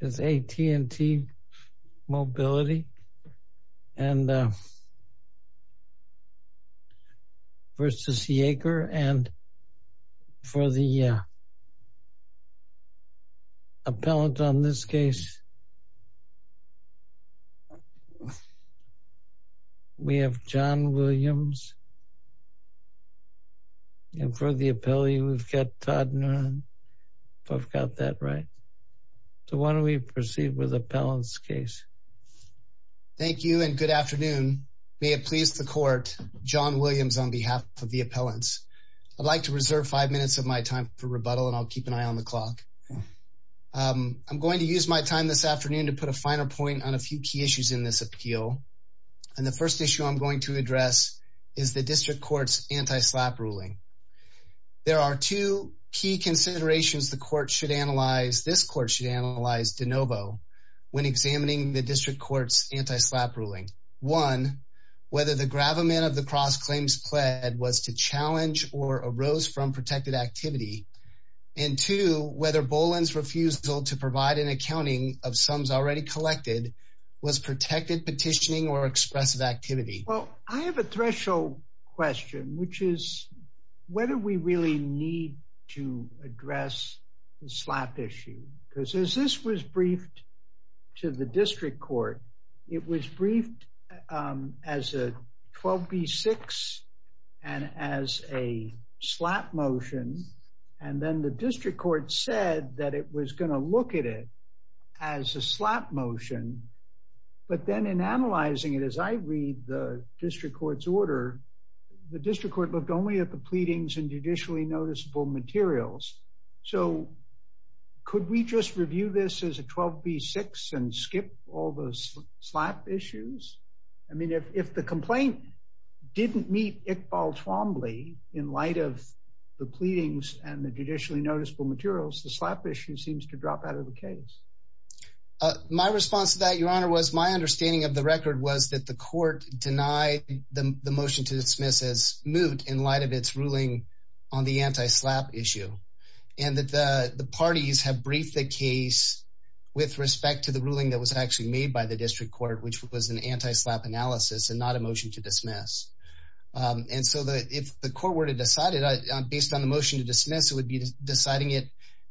It's AT&T Mobility and v. Yeager and for the appellant on this case we have John Williams on behalf of the appellants. I'd like to reserve five minutes of my time for rebuttal and I'll keep an eye on the clock. I'm going to use my time this afternoon to put a final point on a few key issues in this appeal and the first issue I'm going to address is the district court's anti-SLAPP ruling. There are two key considerations the court should analyze, this court should analyze de novo when examining the district court's anti-SLAPP ruling. One, whether the gravamen of the cross claims pled was to challenge or arose from protected activity and two, whether Boland's refusal to provide an accounting of sums already collected was protected petitioning or expressive activity. Well I have a threshold question which is whether we really need to address the SLAPP issue because as this was briefed to the district court it was and then the district court said that it was going to look at it as a SLAPP motion but then in analyzing it as I read the district court's order the district court looked only at the pleadings and judicially noticeable materials. So could we just review this as a 12b6 and skip all those SLAPP issues? I mean if the complaint didn't meet Iqbal Twombly in light of the judicially noticeable materials the SLAPP issue seems to drop out of the case. My response to that your honor was my understanding of the record was that the court denied the motion to dismiss as moot in light of its ruling on the anti-SLAPP issue and that the parties have briefed the case with respect to the ruling that was actually made by the district court which was an anti-SLAPP analysis and not a motion to dismiss and so that if the court were to decide it based on the motion to dismiss it would be deciding it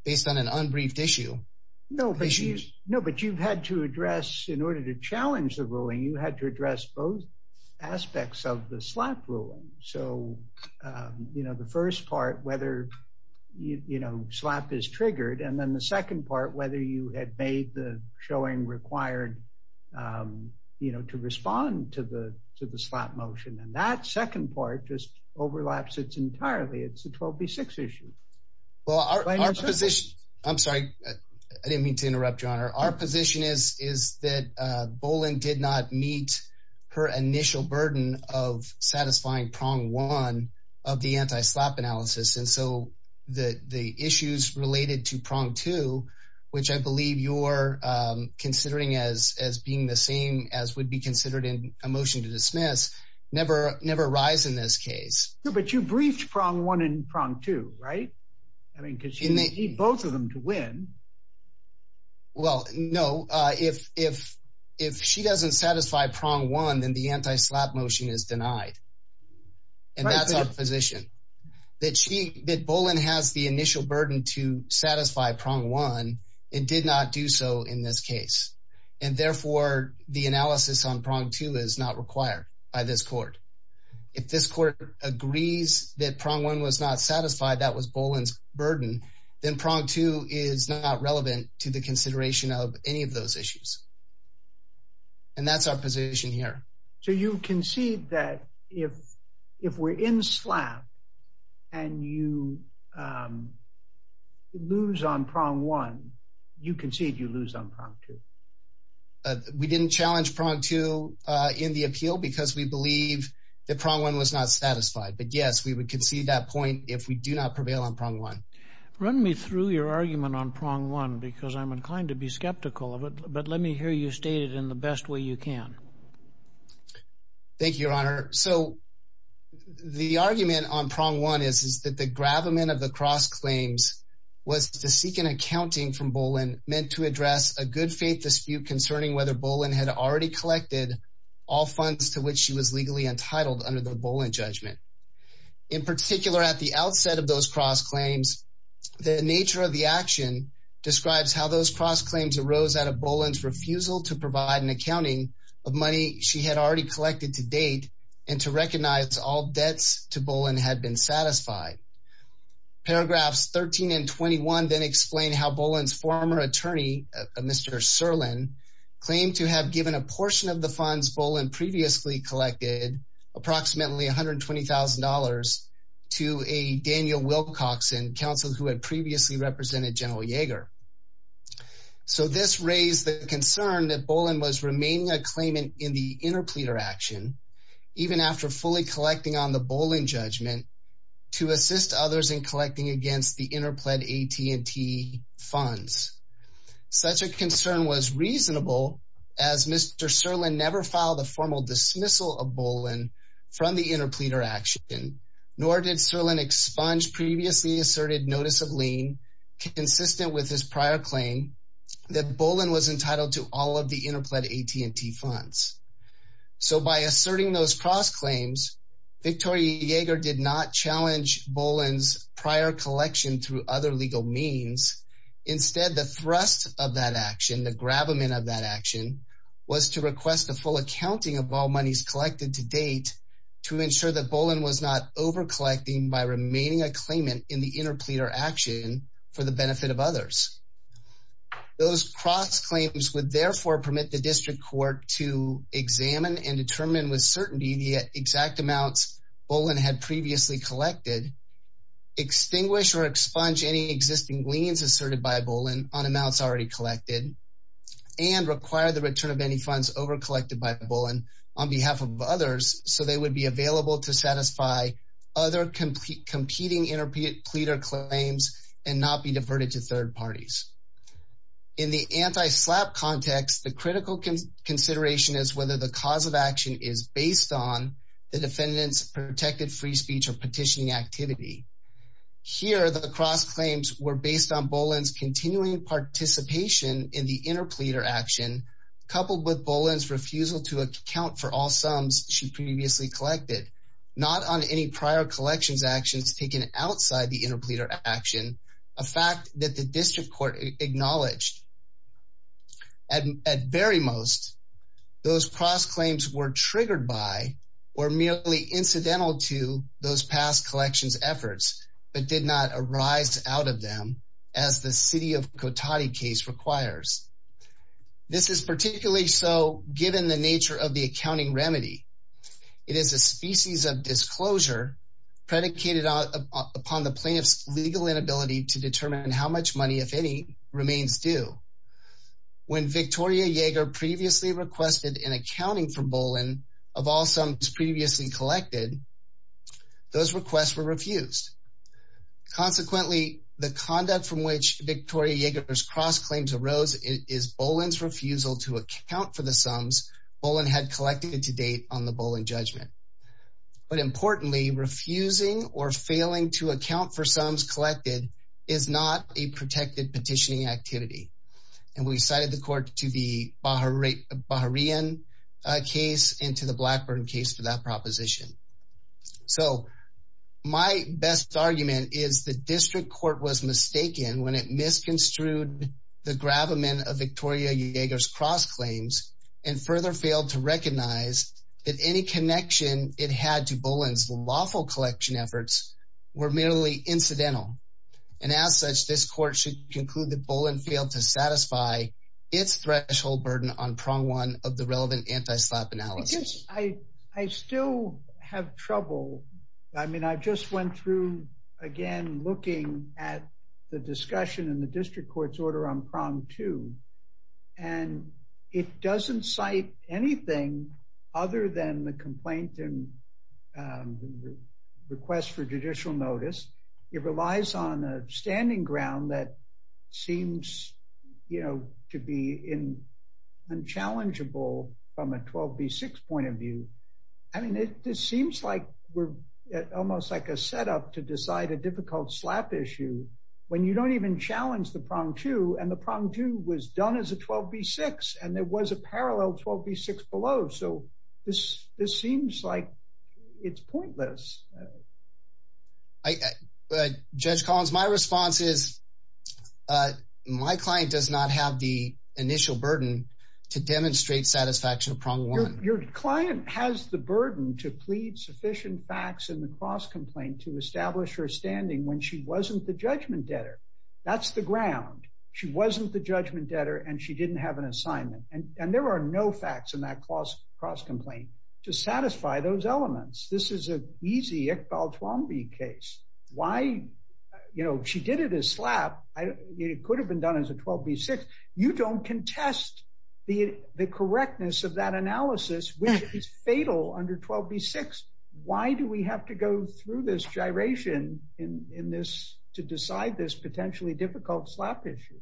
based on an unbriefed issue. No but you've had to address in order to challenge the ruling you had to address both aspects of the SLAPP ruling so you know the first part whether you know SLAPP is triggered and then the second part whether you had made the showing required you know to respond to the to the SLAPP motion and that will be six issues. Well our position I'm sorry I didn't mean to interrupt your honor our position is is that Boland did not meet her initial burden of satisfying prong one of the anti-SLAPP analysis and so the the issues related to prong two which I believe you're considering as as being the same as would be considered in a motion to dismiss never never rise in this case. No but you briefed prong one and prong two right I mean because you need both of them to win. Well no if if if she doesn't satisfy prong one then the anti-SLAPP motion is denied and that's our position that she that Boland has the initial burden to satisfy prong one and did not do so in this case and therefore the analysis on prong two is not required by this court. If this court agrees that prong one was not satisfied that was Boland's burden then prong two is not relevant to the consideration of any of those issues and that's our position here. So you concede that if if we're in SLAPP and you lose on prong one you concede you lose on prong two. We didn't challenge prong two in the appeal because we believe that prong one was not satisfied but yes we would concede that point if we do not prevail on prong one. Run me through your argument on prong one because I'm inclined to be skeptical of it but let me hear you state it in the best way you can. Thank you your honor so the argument on prong one is is that the gravamen of the cross claims was to seek an accounting from Boland meant to address a good faith dispute concerning whether Boland had already collected all funds to which she was legally entitled under the Boland judgment. In particular at the outset of those cross claims the nature of the action describes how those cross claims arose out of Boland's refusal to provide an accounting of money she had already collected to recognize all debts to Boland had been satisfied. Paragraphs 13 and 21 then explain how Boland's former attorney Mr. Serlin claimed to have given a portion of the funds Boland previously collected approximately $120,000 to a Daniel Wilcoxon counsel who had previously represented General Yeager. So this raised the concern that Boland was remaining a claimant in the interpleader action even after fully collecting on the Boland judgment to assist others in collecting against the interplead AT&T funds. Such a concern was reasonable as Mr. Serlin never filed a formal dismissal of Boland from the interpleader action nor did Serlin expunge previously asserted notice of lien consistent with his prior claim that Boland was entitled to all of the interplead AT&T funds. So by asserting those cross claims Victoria Yeager did not challenge Boland's prior collection through other legal means. Instead the thrust of that action the gravamen of that action was to request a full accounting of all monies collected to date to ensure that Boland was not over collecting by remaining a claimant in the interpleader action for the benefit of others. Those cross claims would therefore permit the district court to examine and determine with certainty the exact amounts Boland had previously collected, extinguish or expunge any existing liens asserted by Boland on amounts already collected and require the return of any funds over collected by Boland on behalf of others so they would be available to satisfy other competing interpleader claims and not be diverted to third parties. In the anti-SLAPP context the critical consideration is whether the cause of action is based on the defendant's protected free speech or petitioning activity. Here the cross claims were based on Boland's continuing participation in the interpleader action coupled with Boland's refusal to account for all sums she previously collected not on any prior collections actions taken outside the interpleader action a fact that the district court acknowledged. At very most those cross claims were triggered by or merely incidental to those past collections efforts but did not arise out of them as the city of Cotati case requires. This is particularly so given the nature of the accounting remedy. It is a species of disclosure predicated upon the plaintiff's legal inability to determine how much money if any remains due. When Victoria Yeager previously requested an accounting for Boland of all sums previously collected those requests were refused. Consequently the conduct from which Victoria Yeager's cross claims arose is Boland's refusal to account for the sums Boland had collected to date on the refusing or failing to account for sums collected is not a protected petitioning activity and we cited the court to the Bahrain case and to the Blackburn case for that proposition. So my best argument is the district court was mistaken when it misconstrued the grabment of Victoria Yeager's cross claims and further failed to recognize that any connection it had to Boland's lawful collection efforts were merely incidental and as such this court should conclude that Boland failed to satisfy its threshold burden on prong one of the relevant anti-slap analysis. I still have trouble I mean I just went through again looking at the discussion in the district court's order on prong two and it doesn't cite anything other than the complaint and request for judicial notice. It relies on a standing ground that seems you know to be in unchallengeable from a 12b6 point of view. I mean it seems like we're almost like a setup to decide a difficult slap issue when you don't even challenge the prong two and the prong two was done as a 12b6 and there was a parallel 12b6 below so this this seems like it's pointless. Judge Collins my response is my client does not have the initial burden to demonstrate satisfaction of prong one. Your client has the burden to plead sufficient facts in the cross complaint to establish her standing when she wasn't the judgment debtor. That's the ground. She wasn't the judgment debtor and she didn't have an assignment and there are no facts in that cross complaint to satisfy those elements. This is a easy Iqbal Twombly case. Why you know she did it as slap. It could have been done as a 12b6. You don't contest the correctness of that analysis which is fatal under 12b6. Why do we have to go through this gyration in this to decide this potentially difficult slap issue?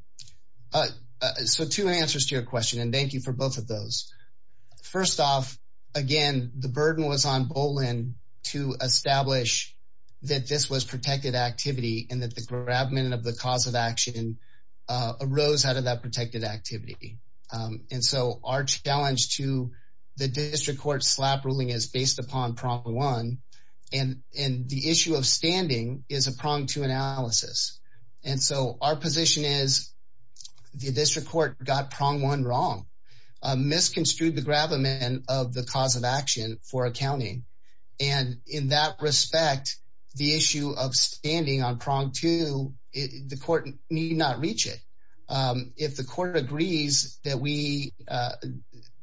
So two answers to your question and thank you for both of those. First off again the burden was on Bolin to establish that this was protected activity and that the grabment of the cause of action arose out of that protected activity and so our challenge to the district court slap ruling is based upon prong one and the issue of standing is a prong two analysis and so our position is the district court got prong one wrong. Misconstrued the grabment of the cause of action for accounting and in that respect the issue of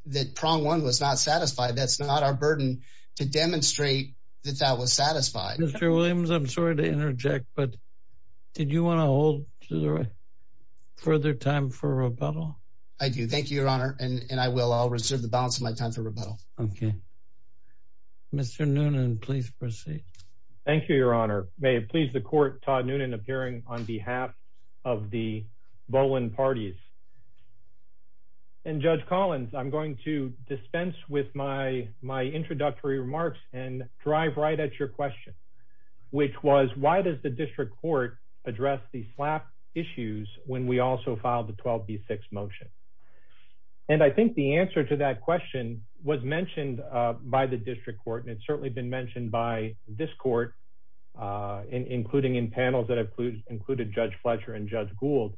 that prong one was not satisfied. That's not our burden to demonstrate that that was satisfied. Mr Williams I'm sorry to interject but did you want to hold to the right further time for rebuttal? I do thank you your honor and and I will. I'll reserve the balance of my time for rebuttal. Okay Mr. Noonan please proceed. Thank you your honor. May it please the court Todd Noonan appearing on behalf of the Bolin parties and Judge Collins I'm going to dispense with my my introductory remarks and drive right at your question which was why does the district court address the slap issues when we also filed the 12b6 motion and I think the answer to that question was mentioned by the district court and it's certainly been mentioned by this court including in panels that included Judge Fletcher and Judge Gould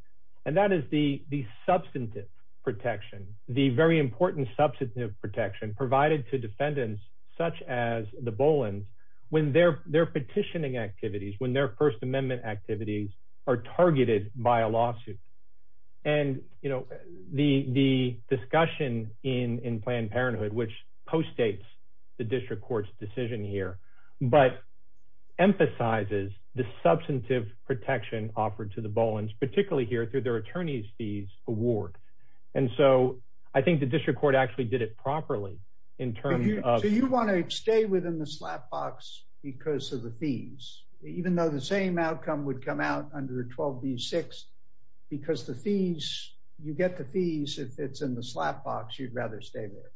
and that is the the substantive protection the very important substantive protection provided to defendants such as the Bolin when their their petitioning activities when their first amendment activities are targeted by a lawsuit and you know the the discussion in in Planned Parenthood which co-states the district court's here but emphasizes the substantive protection offered to the Bolins particularly here through their attorney's fees award and so I think the district court actually did it properly in terms of you want to stay within the slap box because of the fees even though the same outcome would come out under 12b6 because the fees you get the fees if it's in the slap box you'd rather stay there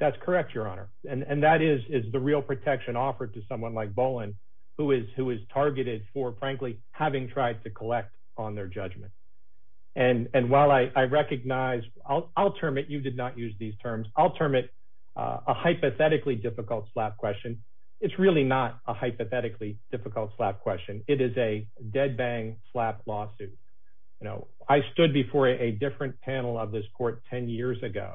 that's correct your honor and and that is is the real protection offered to someone like Bolin who is who is targeted for frankly having tried to collect on their judgment and and while I I recognize I'll I'll term it you did not use these terms I'll term it a hypothetically difficult slap question it's really not a hypothetically difficult slap question it is a dead bang slap lawsuit you know I stood before a different panel of this court 10 years ago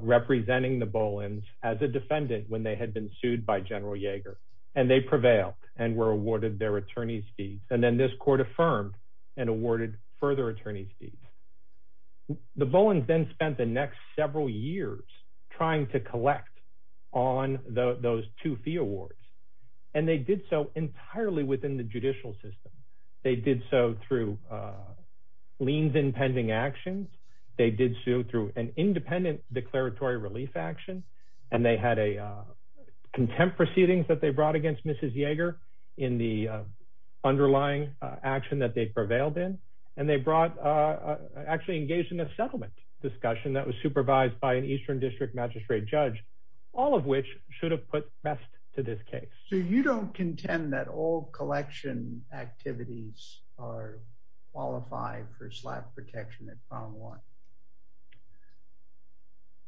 representing the Bolins as a defendant when they had been sued by General Yeager and they prevailed and were awarded their attorney's fees and then this court affirmed and awarded further attorney's fees the Bolins then spent the next several years trying to collect on those two fee awards and they did so entirely within the judicial system they did so through leans in pending actions they did sue through an independent declaratory relief action and they had a contempt proceedings that they brought against Mrs. Yeager in the underlying action that they prevailed in and they brought actually engaged in a settlement discussion that was supervised by an eastern district magistrate judge all of which should have put best to this case so you don't contend that all collection activities are qualified for slap protection at found one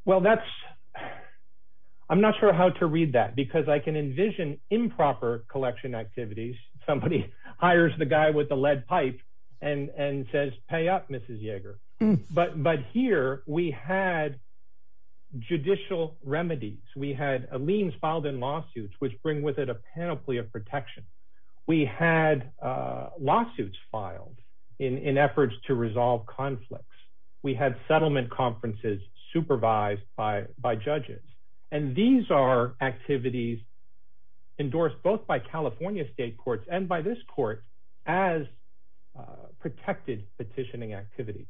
well that's I'm not sure how to read that because I can envision improper collection activities somebody hires the guy with the lead pipe and and says pay up Mrs. Yeager but but here we had judicial remedies we had a leans filed in lawsuits which bring with it a panoply of protection we had lawsuits filed in in efforts to resolve conflicts we had settlement conferences supervised by by judges and these are activities endorsed both by California state courts and by as protected petitioning activities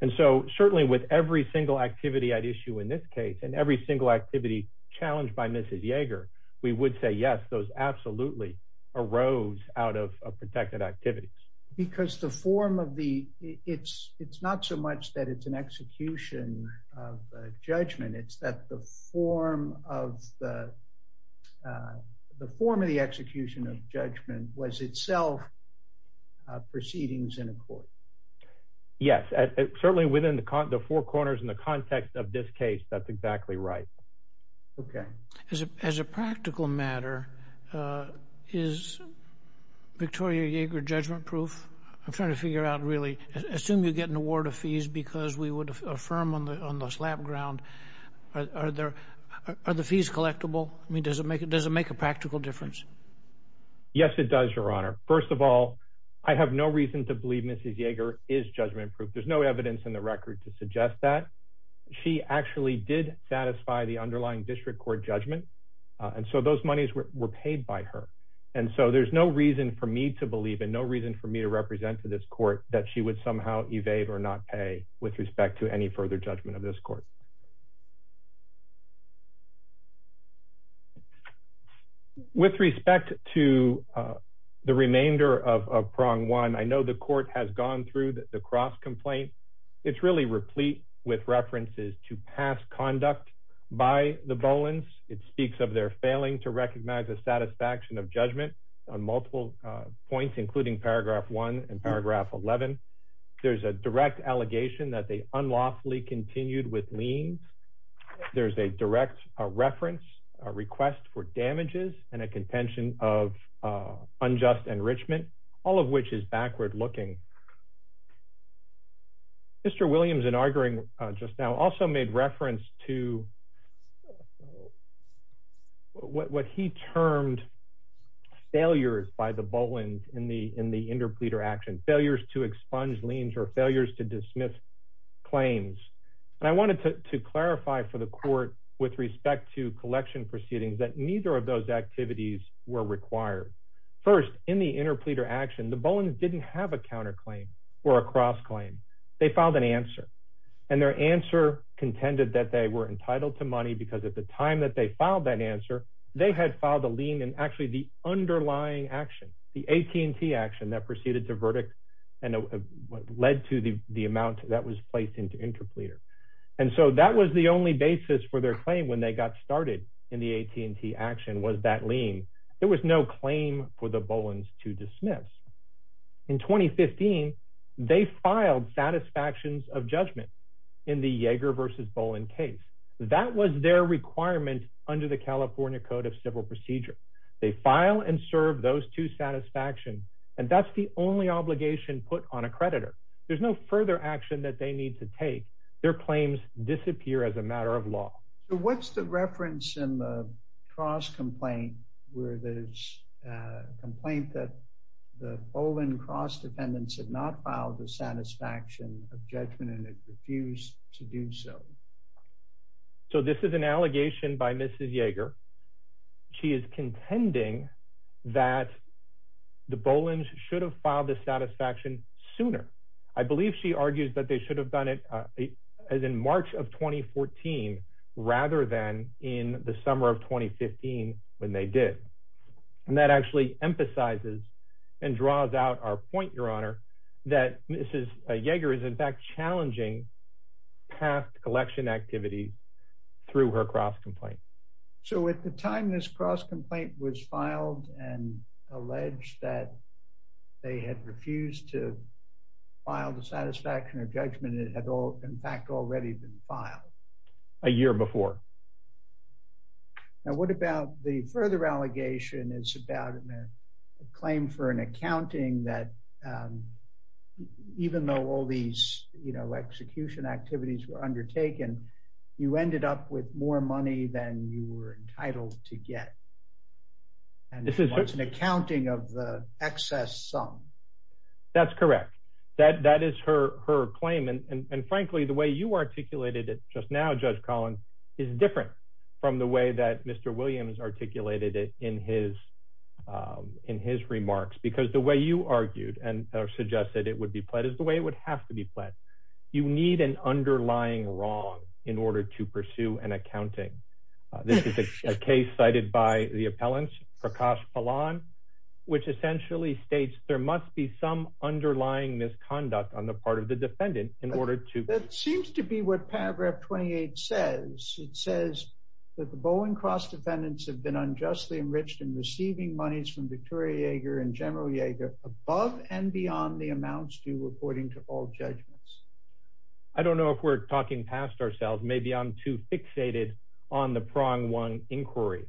and so certainly with every single activity at issue in this case and every single activity challenged by Mrs. Yeager we would say yes those absolutely arose out of protected activities because the form of the it's it's not so much that it's an execution of judgment it's that the form of the the form of the execution of judgment was itself proceedings in a court yes certainly within the four corners in the context of this case that's exactly right okay as a practical matter is Victoria Yeager judgment proof I'm trying to figure out really assume you get an award of fees because we would affirm on the on the slap ground are there are the fees collectible I mean does it make it does it make a practical difference yes it does your honor first of all I have no reason to believe Mrs. Yeager is judgment proof there's no evidence in the record to suggest that she actually did satisfy the underlying district court judgment and so those monies were paid by her and so there's no reason for me to believe and no reason for me to represent to this court that she would somehow evade or not pay with respect to the remainder of prong one I know the court has gone through the cross complaint it's really replete with references to past conduct by the Bolin's it speaks of their failing to recognize the satisfaction of judgment on multiple points including paragraph 1 and there's a direct reference a request for damages and a contention of unjust enrichment all of which is backward looking Mr. Williams in arguing just now also made reference to what he termed failures by the Bolin's in the in the interpleader action failures to expunge liens or failures to dismiss claims and I wanted to clarify for the court with respect to collection proceedings that neither of those activities were required first in the interpleader action the Bolin's didn't have a counter claim or a cross claim they filed an answer and their answer contended that they were entitled to money because at the time that they filed that answer they had filed a lien and actually the underlying action the AT&T action that proceeded to verdict and led to the the amount that was placed into interpleader and so that was the only basis for their claim when they got started in the AT&T action was that lien there was no claim for the Bolin's to dismiss in 2015 they filed satisfactions of judgment in the Yeager versus Bolin case that was their requirement under the California Code of Civil Procedure they file and serve those two satisfactions and that's the only obligation put on a creditor there's no further action that they need to take their claims disappear as a matter of law what's the reference in the cross complaint where there's a complaint that the Bolin cross defendants had not filed the satisfaction of judgment and it refused to do so so this is an allegation by Mrs. Yeager she is contending that the Bolin's should have filed the satisfaction sooner I believe she argues that they should have done it as in March of 2014 rather than in the summer of 2015 when they did and that actually emphasizes and draws out our point your honor that Mrs. Yeager is in fact challenging past election activity through her cross complaint so at the time this cross complaint was filed and alleged that they had refused to file the satisfaction of judgment it had all in fact already been filed a year before now what about the further allegation is about a claim for an you ended up with more money than you were entitled to get and this is what's an accounting of the excess sum that's correct that that is her her claim and and frankly the way you articulated it just now Judge Collins is different from the way that Mr. Williams articulated it in his in his remarks because the way you argued and suggested it would be pledged the way it would have to be pledged you need an underlying wrong in order to pursue an accounting this is a case cited by the appellants Prakash Palan which essentially states there must be some underlying misconduct on the part of the defendant in order to that seems to be what paragraph 28 says it says that the Bowen cross defendants have been unjustly enriched in receiving monies from Victoria Yeager and all judgments I don't know if we're talking past ourselves maybe I'm too fixated on the prong one inquiry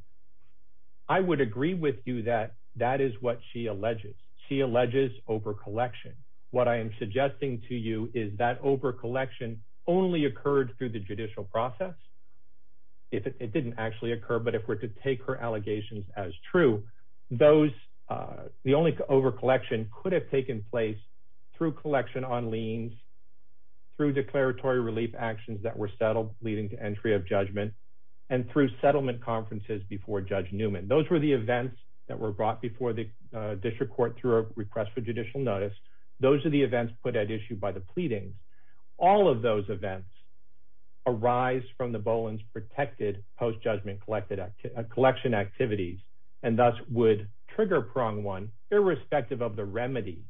I would agree with you that that is what she alleges she alleges over collection what I am suggesting to you is that over collection only occurred through the judicial process if it didn't actually occur but if we're to take her allegations as true those uh the only over collection could have taken place through collection on liens through declaratory relief actions that were settled leading to entry of judgment and through settlement conferences before Judge Newman those were the events that were brought before the district court through a request for judicial notice those are the events put at issue by the pleading all of those events arise from the Bolin's protected post-judgment collected collection activities and thus would trigger prong one irrespective of the remedy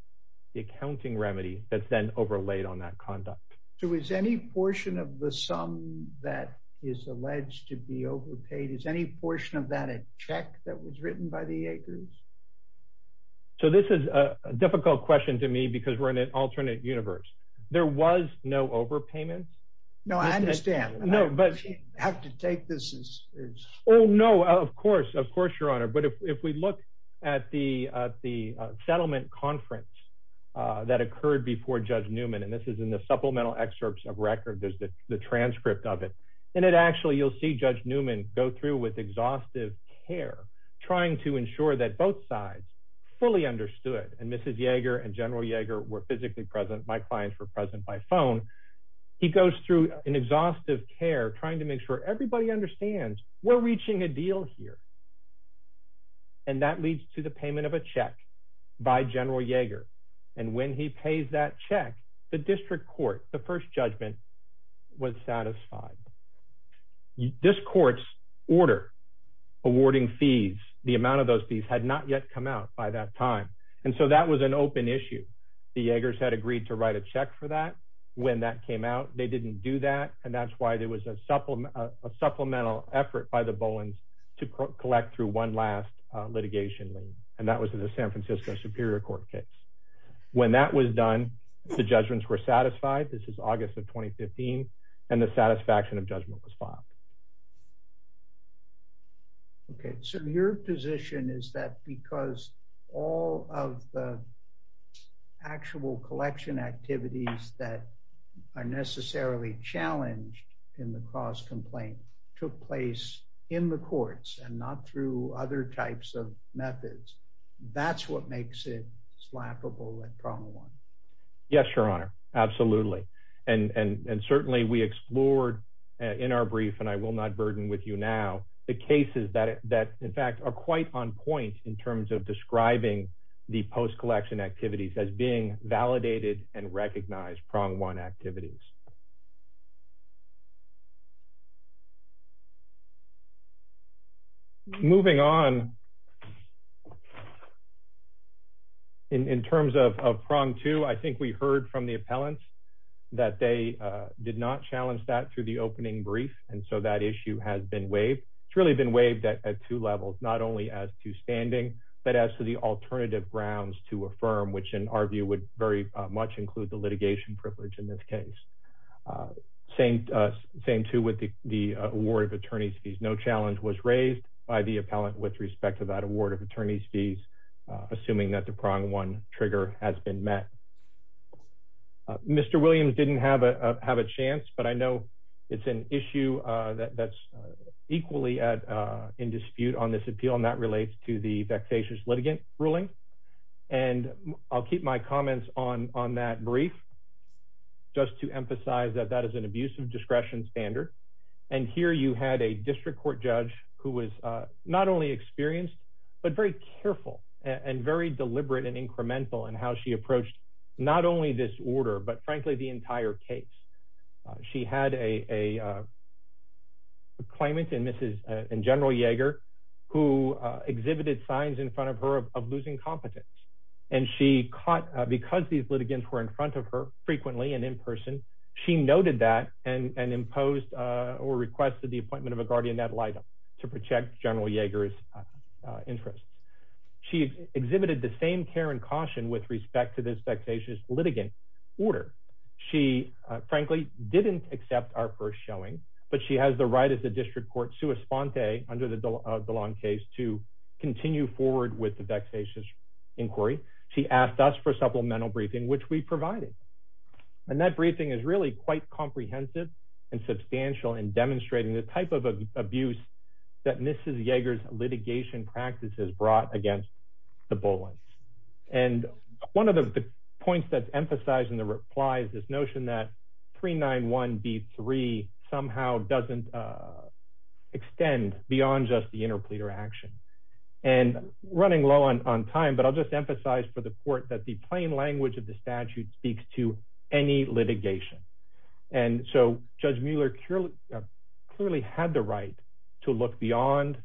the accounting remedy that's then overlaid on that conduct so is any portion of the sum that is alleged to be overpaid is any portion of that a check that was written by the acres so this is a difficult question to me because we're in an alternate universe there was no overpayment no I understand no but you have to take this as oh no of course of course your honor but if we look at the uh the settlement conference uh that occurred before Judge Newman and this is in the supplemental excerpts of record there's the the transcript of it and it actually you'll see Judge Newman go through with exhaustive care trying to ensure that both sides fully understood and Mrs. Yeager and General Yeager were physically present my clients were present by phone he goes through an exhaustive care trying to make sure everybody understands we're reaching a deal here and that leads to the payment of a check by General Yeager and when he pays that check the district court the first judgment was satisfied this court's order awarding fees the amount of those fees had not yet come out by that time and so that was an open issue the Yeagers had agreed to write a check for that when that came out they didn't do that and that's why there was a supplement a supplemental effort by the Bowens to collect through one last litigation and that was the San Francisco Superior Court case when that was done the judgments were satisfied this is August of 2015 and the satisfaction of judgment was filed okay so your position is that because all of the actual collection activities that are necessarily challenged in the cross-complaint took place in the courts and not through other types of methods that's what makes it slappable and prong one yes your honor absolutely and and and certainly we explored in our brief and I will not burden with you now the cases that that in fact are quite on point in terms of describing the validated and recognized prong one activities moving on in terms of prong two I think we heard from the appellants that they did not challenge that through the opening brief and so that issue has been waived it's really been waived at two levels not only as to standing but as to the alternative grounds to affirm which in our view would very much include the litigation privilege in this case same same too with the the award of attorney's fees no challenge was raised by the appellant with respect to that award of attorney's fees assuming that the prong one trigger has been met Mr. Williams didn't have a have a chance but I know it's an issue that that's equally at in dispute on this appeal and that relates to the vexatious litigant ruling and I'll keep my comments on on that brief just to emphasize that that is an abuse of discretion standard and here you had a district court judge who was not only experienced but very careful and very deliberate and incremental and how she approached not only this order but frankly the entire case she had a a claimant and Mrs. and General Yeager who exhibited signs in front of her of losing competence and she caught because these litigants were in front of her frequently and in person she noted that and and imposed or requested the appointment of a guardian ad litem to protect General Yeager's interest she exhibited the same care and caution with respect to this vexatious litigant order she frankly didn't accept our first showing but she has the right as a district court sua sponte under the Dallon case to continue forward with the vexatious inquiry she asked us for supplemental briefing which we provided and that briefing is really quite comprehensive and substantial in demonstrating the type of abuse that Mrs. Yeager's litigation practice has brought against the Bullens and one of the points that's emphasized in the replies this notion that 391b3 somehow doesn't extend beyond just the interpleader action and running low on on time but I'll just emphasize for the court that the plain language of the statute speaks to any litigation and so Judge Mueller clearly clearly had the right to look beyond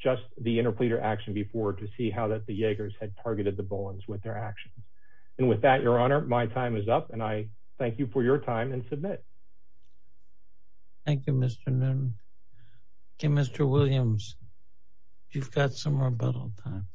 just the interpleader action before to see how that the Yeagers had targeted the Bullens with their action and with that your honor my time is up and I thank you for your time and submit. Thank you Mr. Noonan. Okay Mr. Williams you've got some rebuttal time.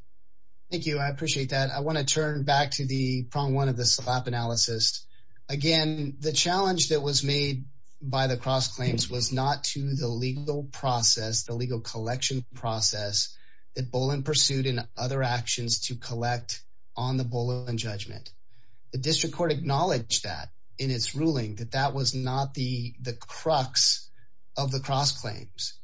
Thank you I appreciate that I want to turn back to the prong one of the slap analysis again the challenge that was made by the cross claims was not to the legal process the legal collection process that Bullen pursued in other actions to collect on the Bullen judgment the district court acknowledged that in its ruling that that was not the the crux of the cross claims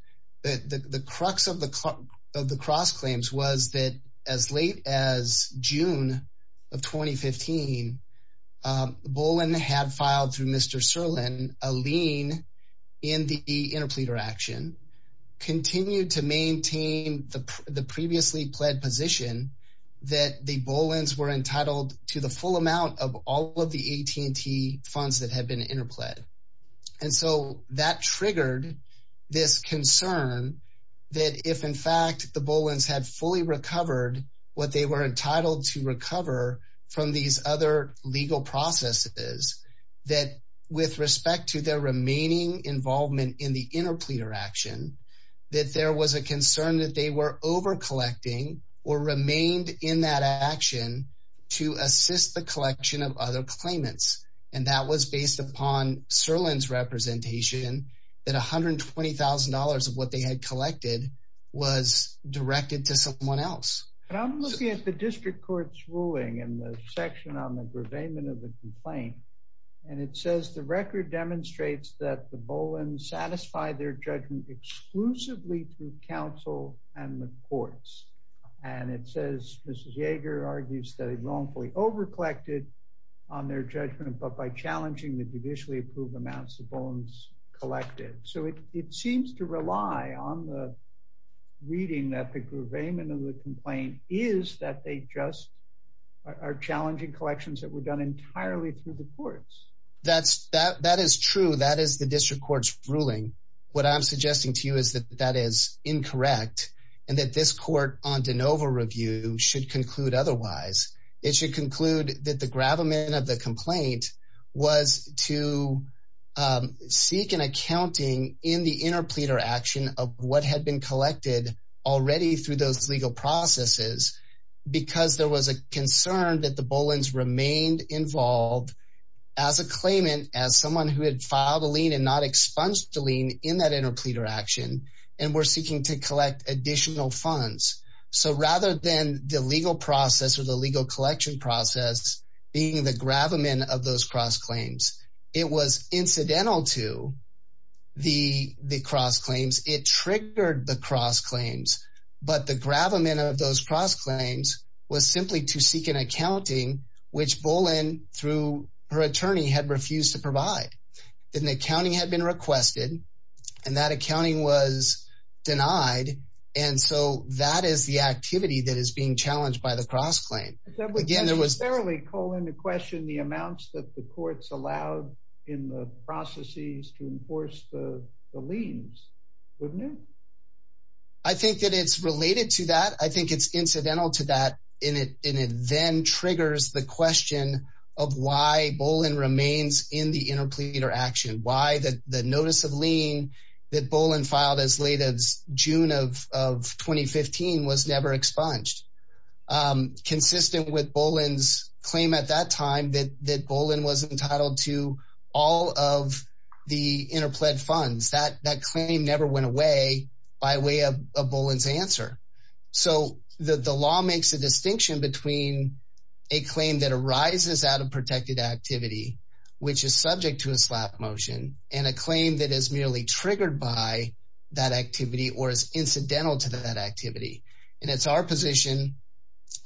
that the the crux of the of the cross claims was that as late as June of 2015 Bullen had filed through Mr. Serlin a lien in the interpleader action continued to maintain the the previously pled position that the Bullens were entitled to the full amount of all of the AT&T and that there was a concern that if in fact the Bullens had fully recovered what they were entitled to recover from these other legal processes that with respect to their remaining involvement in the interpleader action that there was a concern that they were over collecting or remained in that action to assist the collection of other claimants and that was based upon Serlin's representation that $120,000 of what they had collected was directed to someone else but I'm looking at the district court's ruling in the section on the gravayment of the complaint and it says the record demonstrates that the Bullens satisfy their judgment exclusively through counsel and the courts and it says Mrs. Yeager argues that he wrongfully over collected on their judgment but by challenging the judicially approved amounts the Bullens collected so it seems to rely on the reading that the gravayment of the complaint is that they just are challenging collections that were done entirely through the courts that's that that is true that is the district court's ruling what I'm suggesting to you is that that is incorrect and that this court on de novo review should conclude otherwise it should conclude that the gravamen of the complaint was to seek an accounting in the interpleader action of what had been collected already through those legal processes because there was a concern that the Bullens remained involved as a claimant as someone who had filed a lien and not expunged the lien in that interpleader action and were seeking to collect additional funds so rather than the legal process or the legal collection process being the gravamen of those cross claims it was incidental to the the cross claims it triggered the cross claims but the gravamen of those cross claims was simply to seek an accounting which Bullen through her attorney had refused to provide then the accounting had been requested and that accounting was denied and so that is the activity that is being challenged by the cross claim again there was barely calling the question the amounts that the courts allowed in the processes to enforce the liens wouldn't it I think that it's related to that I think it's incidental to that in it and it then triggers the question of why Bullen remains in the interpleader action why that the notice of lien that Bullen filed as late as June of of 2015 was never expunged consistent with Bullen's claim at that time that that Bullen was entitled to all of the interplead funds that that claim never went away by way of a Bullen's answer so that the law makes a distinction between a claim that arises out of protected activity which is subject to motion and a claim that is merely triggered by that activity or is incidental to that activity and it's our position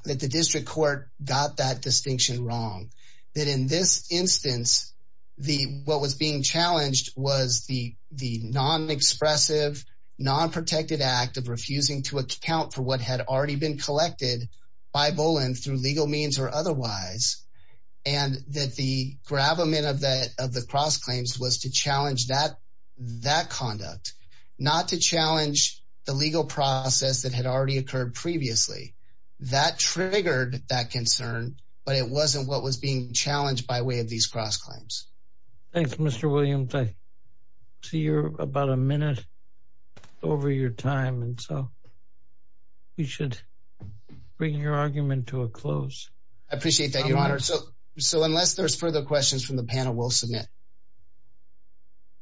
that the district court got that distinction wrong that in this instance the what was being challenged was the the non-expressive non-protected act of refusing to account for what had already been collected by Bullen through legal means or otherwise and that the gravamen of that of the cross claims was to challenge that that conduct not to challenge the legal process that had already occurred previously that triggered that concern but it wasn't what was being challenged by way of these cross claims thanks Mr. Williams I see you're about a minute over your time and so we should bring your argument to a close I appreciate that your honor so so unless there's further questions from the panel we'll submit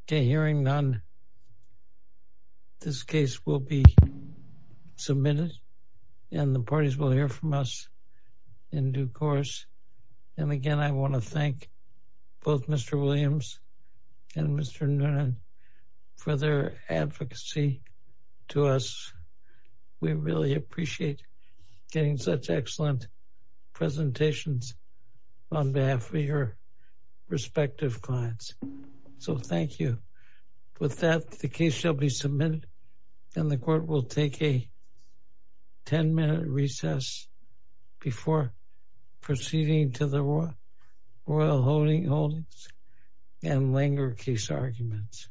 okay hearing none this case will be submitted and the parties will hear from us in due course and again I want to thank both Mr. Williams and Mr. Noonan for their advocacy to us we really appreciate getting such excellent presentations on behalf of your respective clients so thank you with that the case shall be submitted and the court will take a 10-minute recess before proceeding to the royal holdings and linger case arguments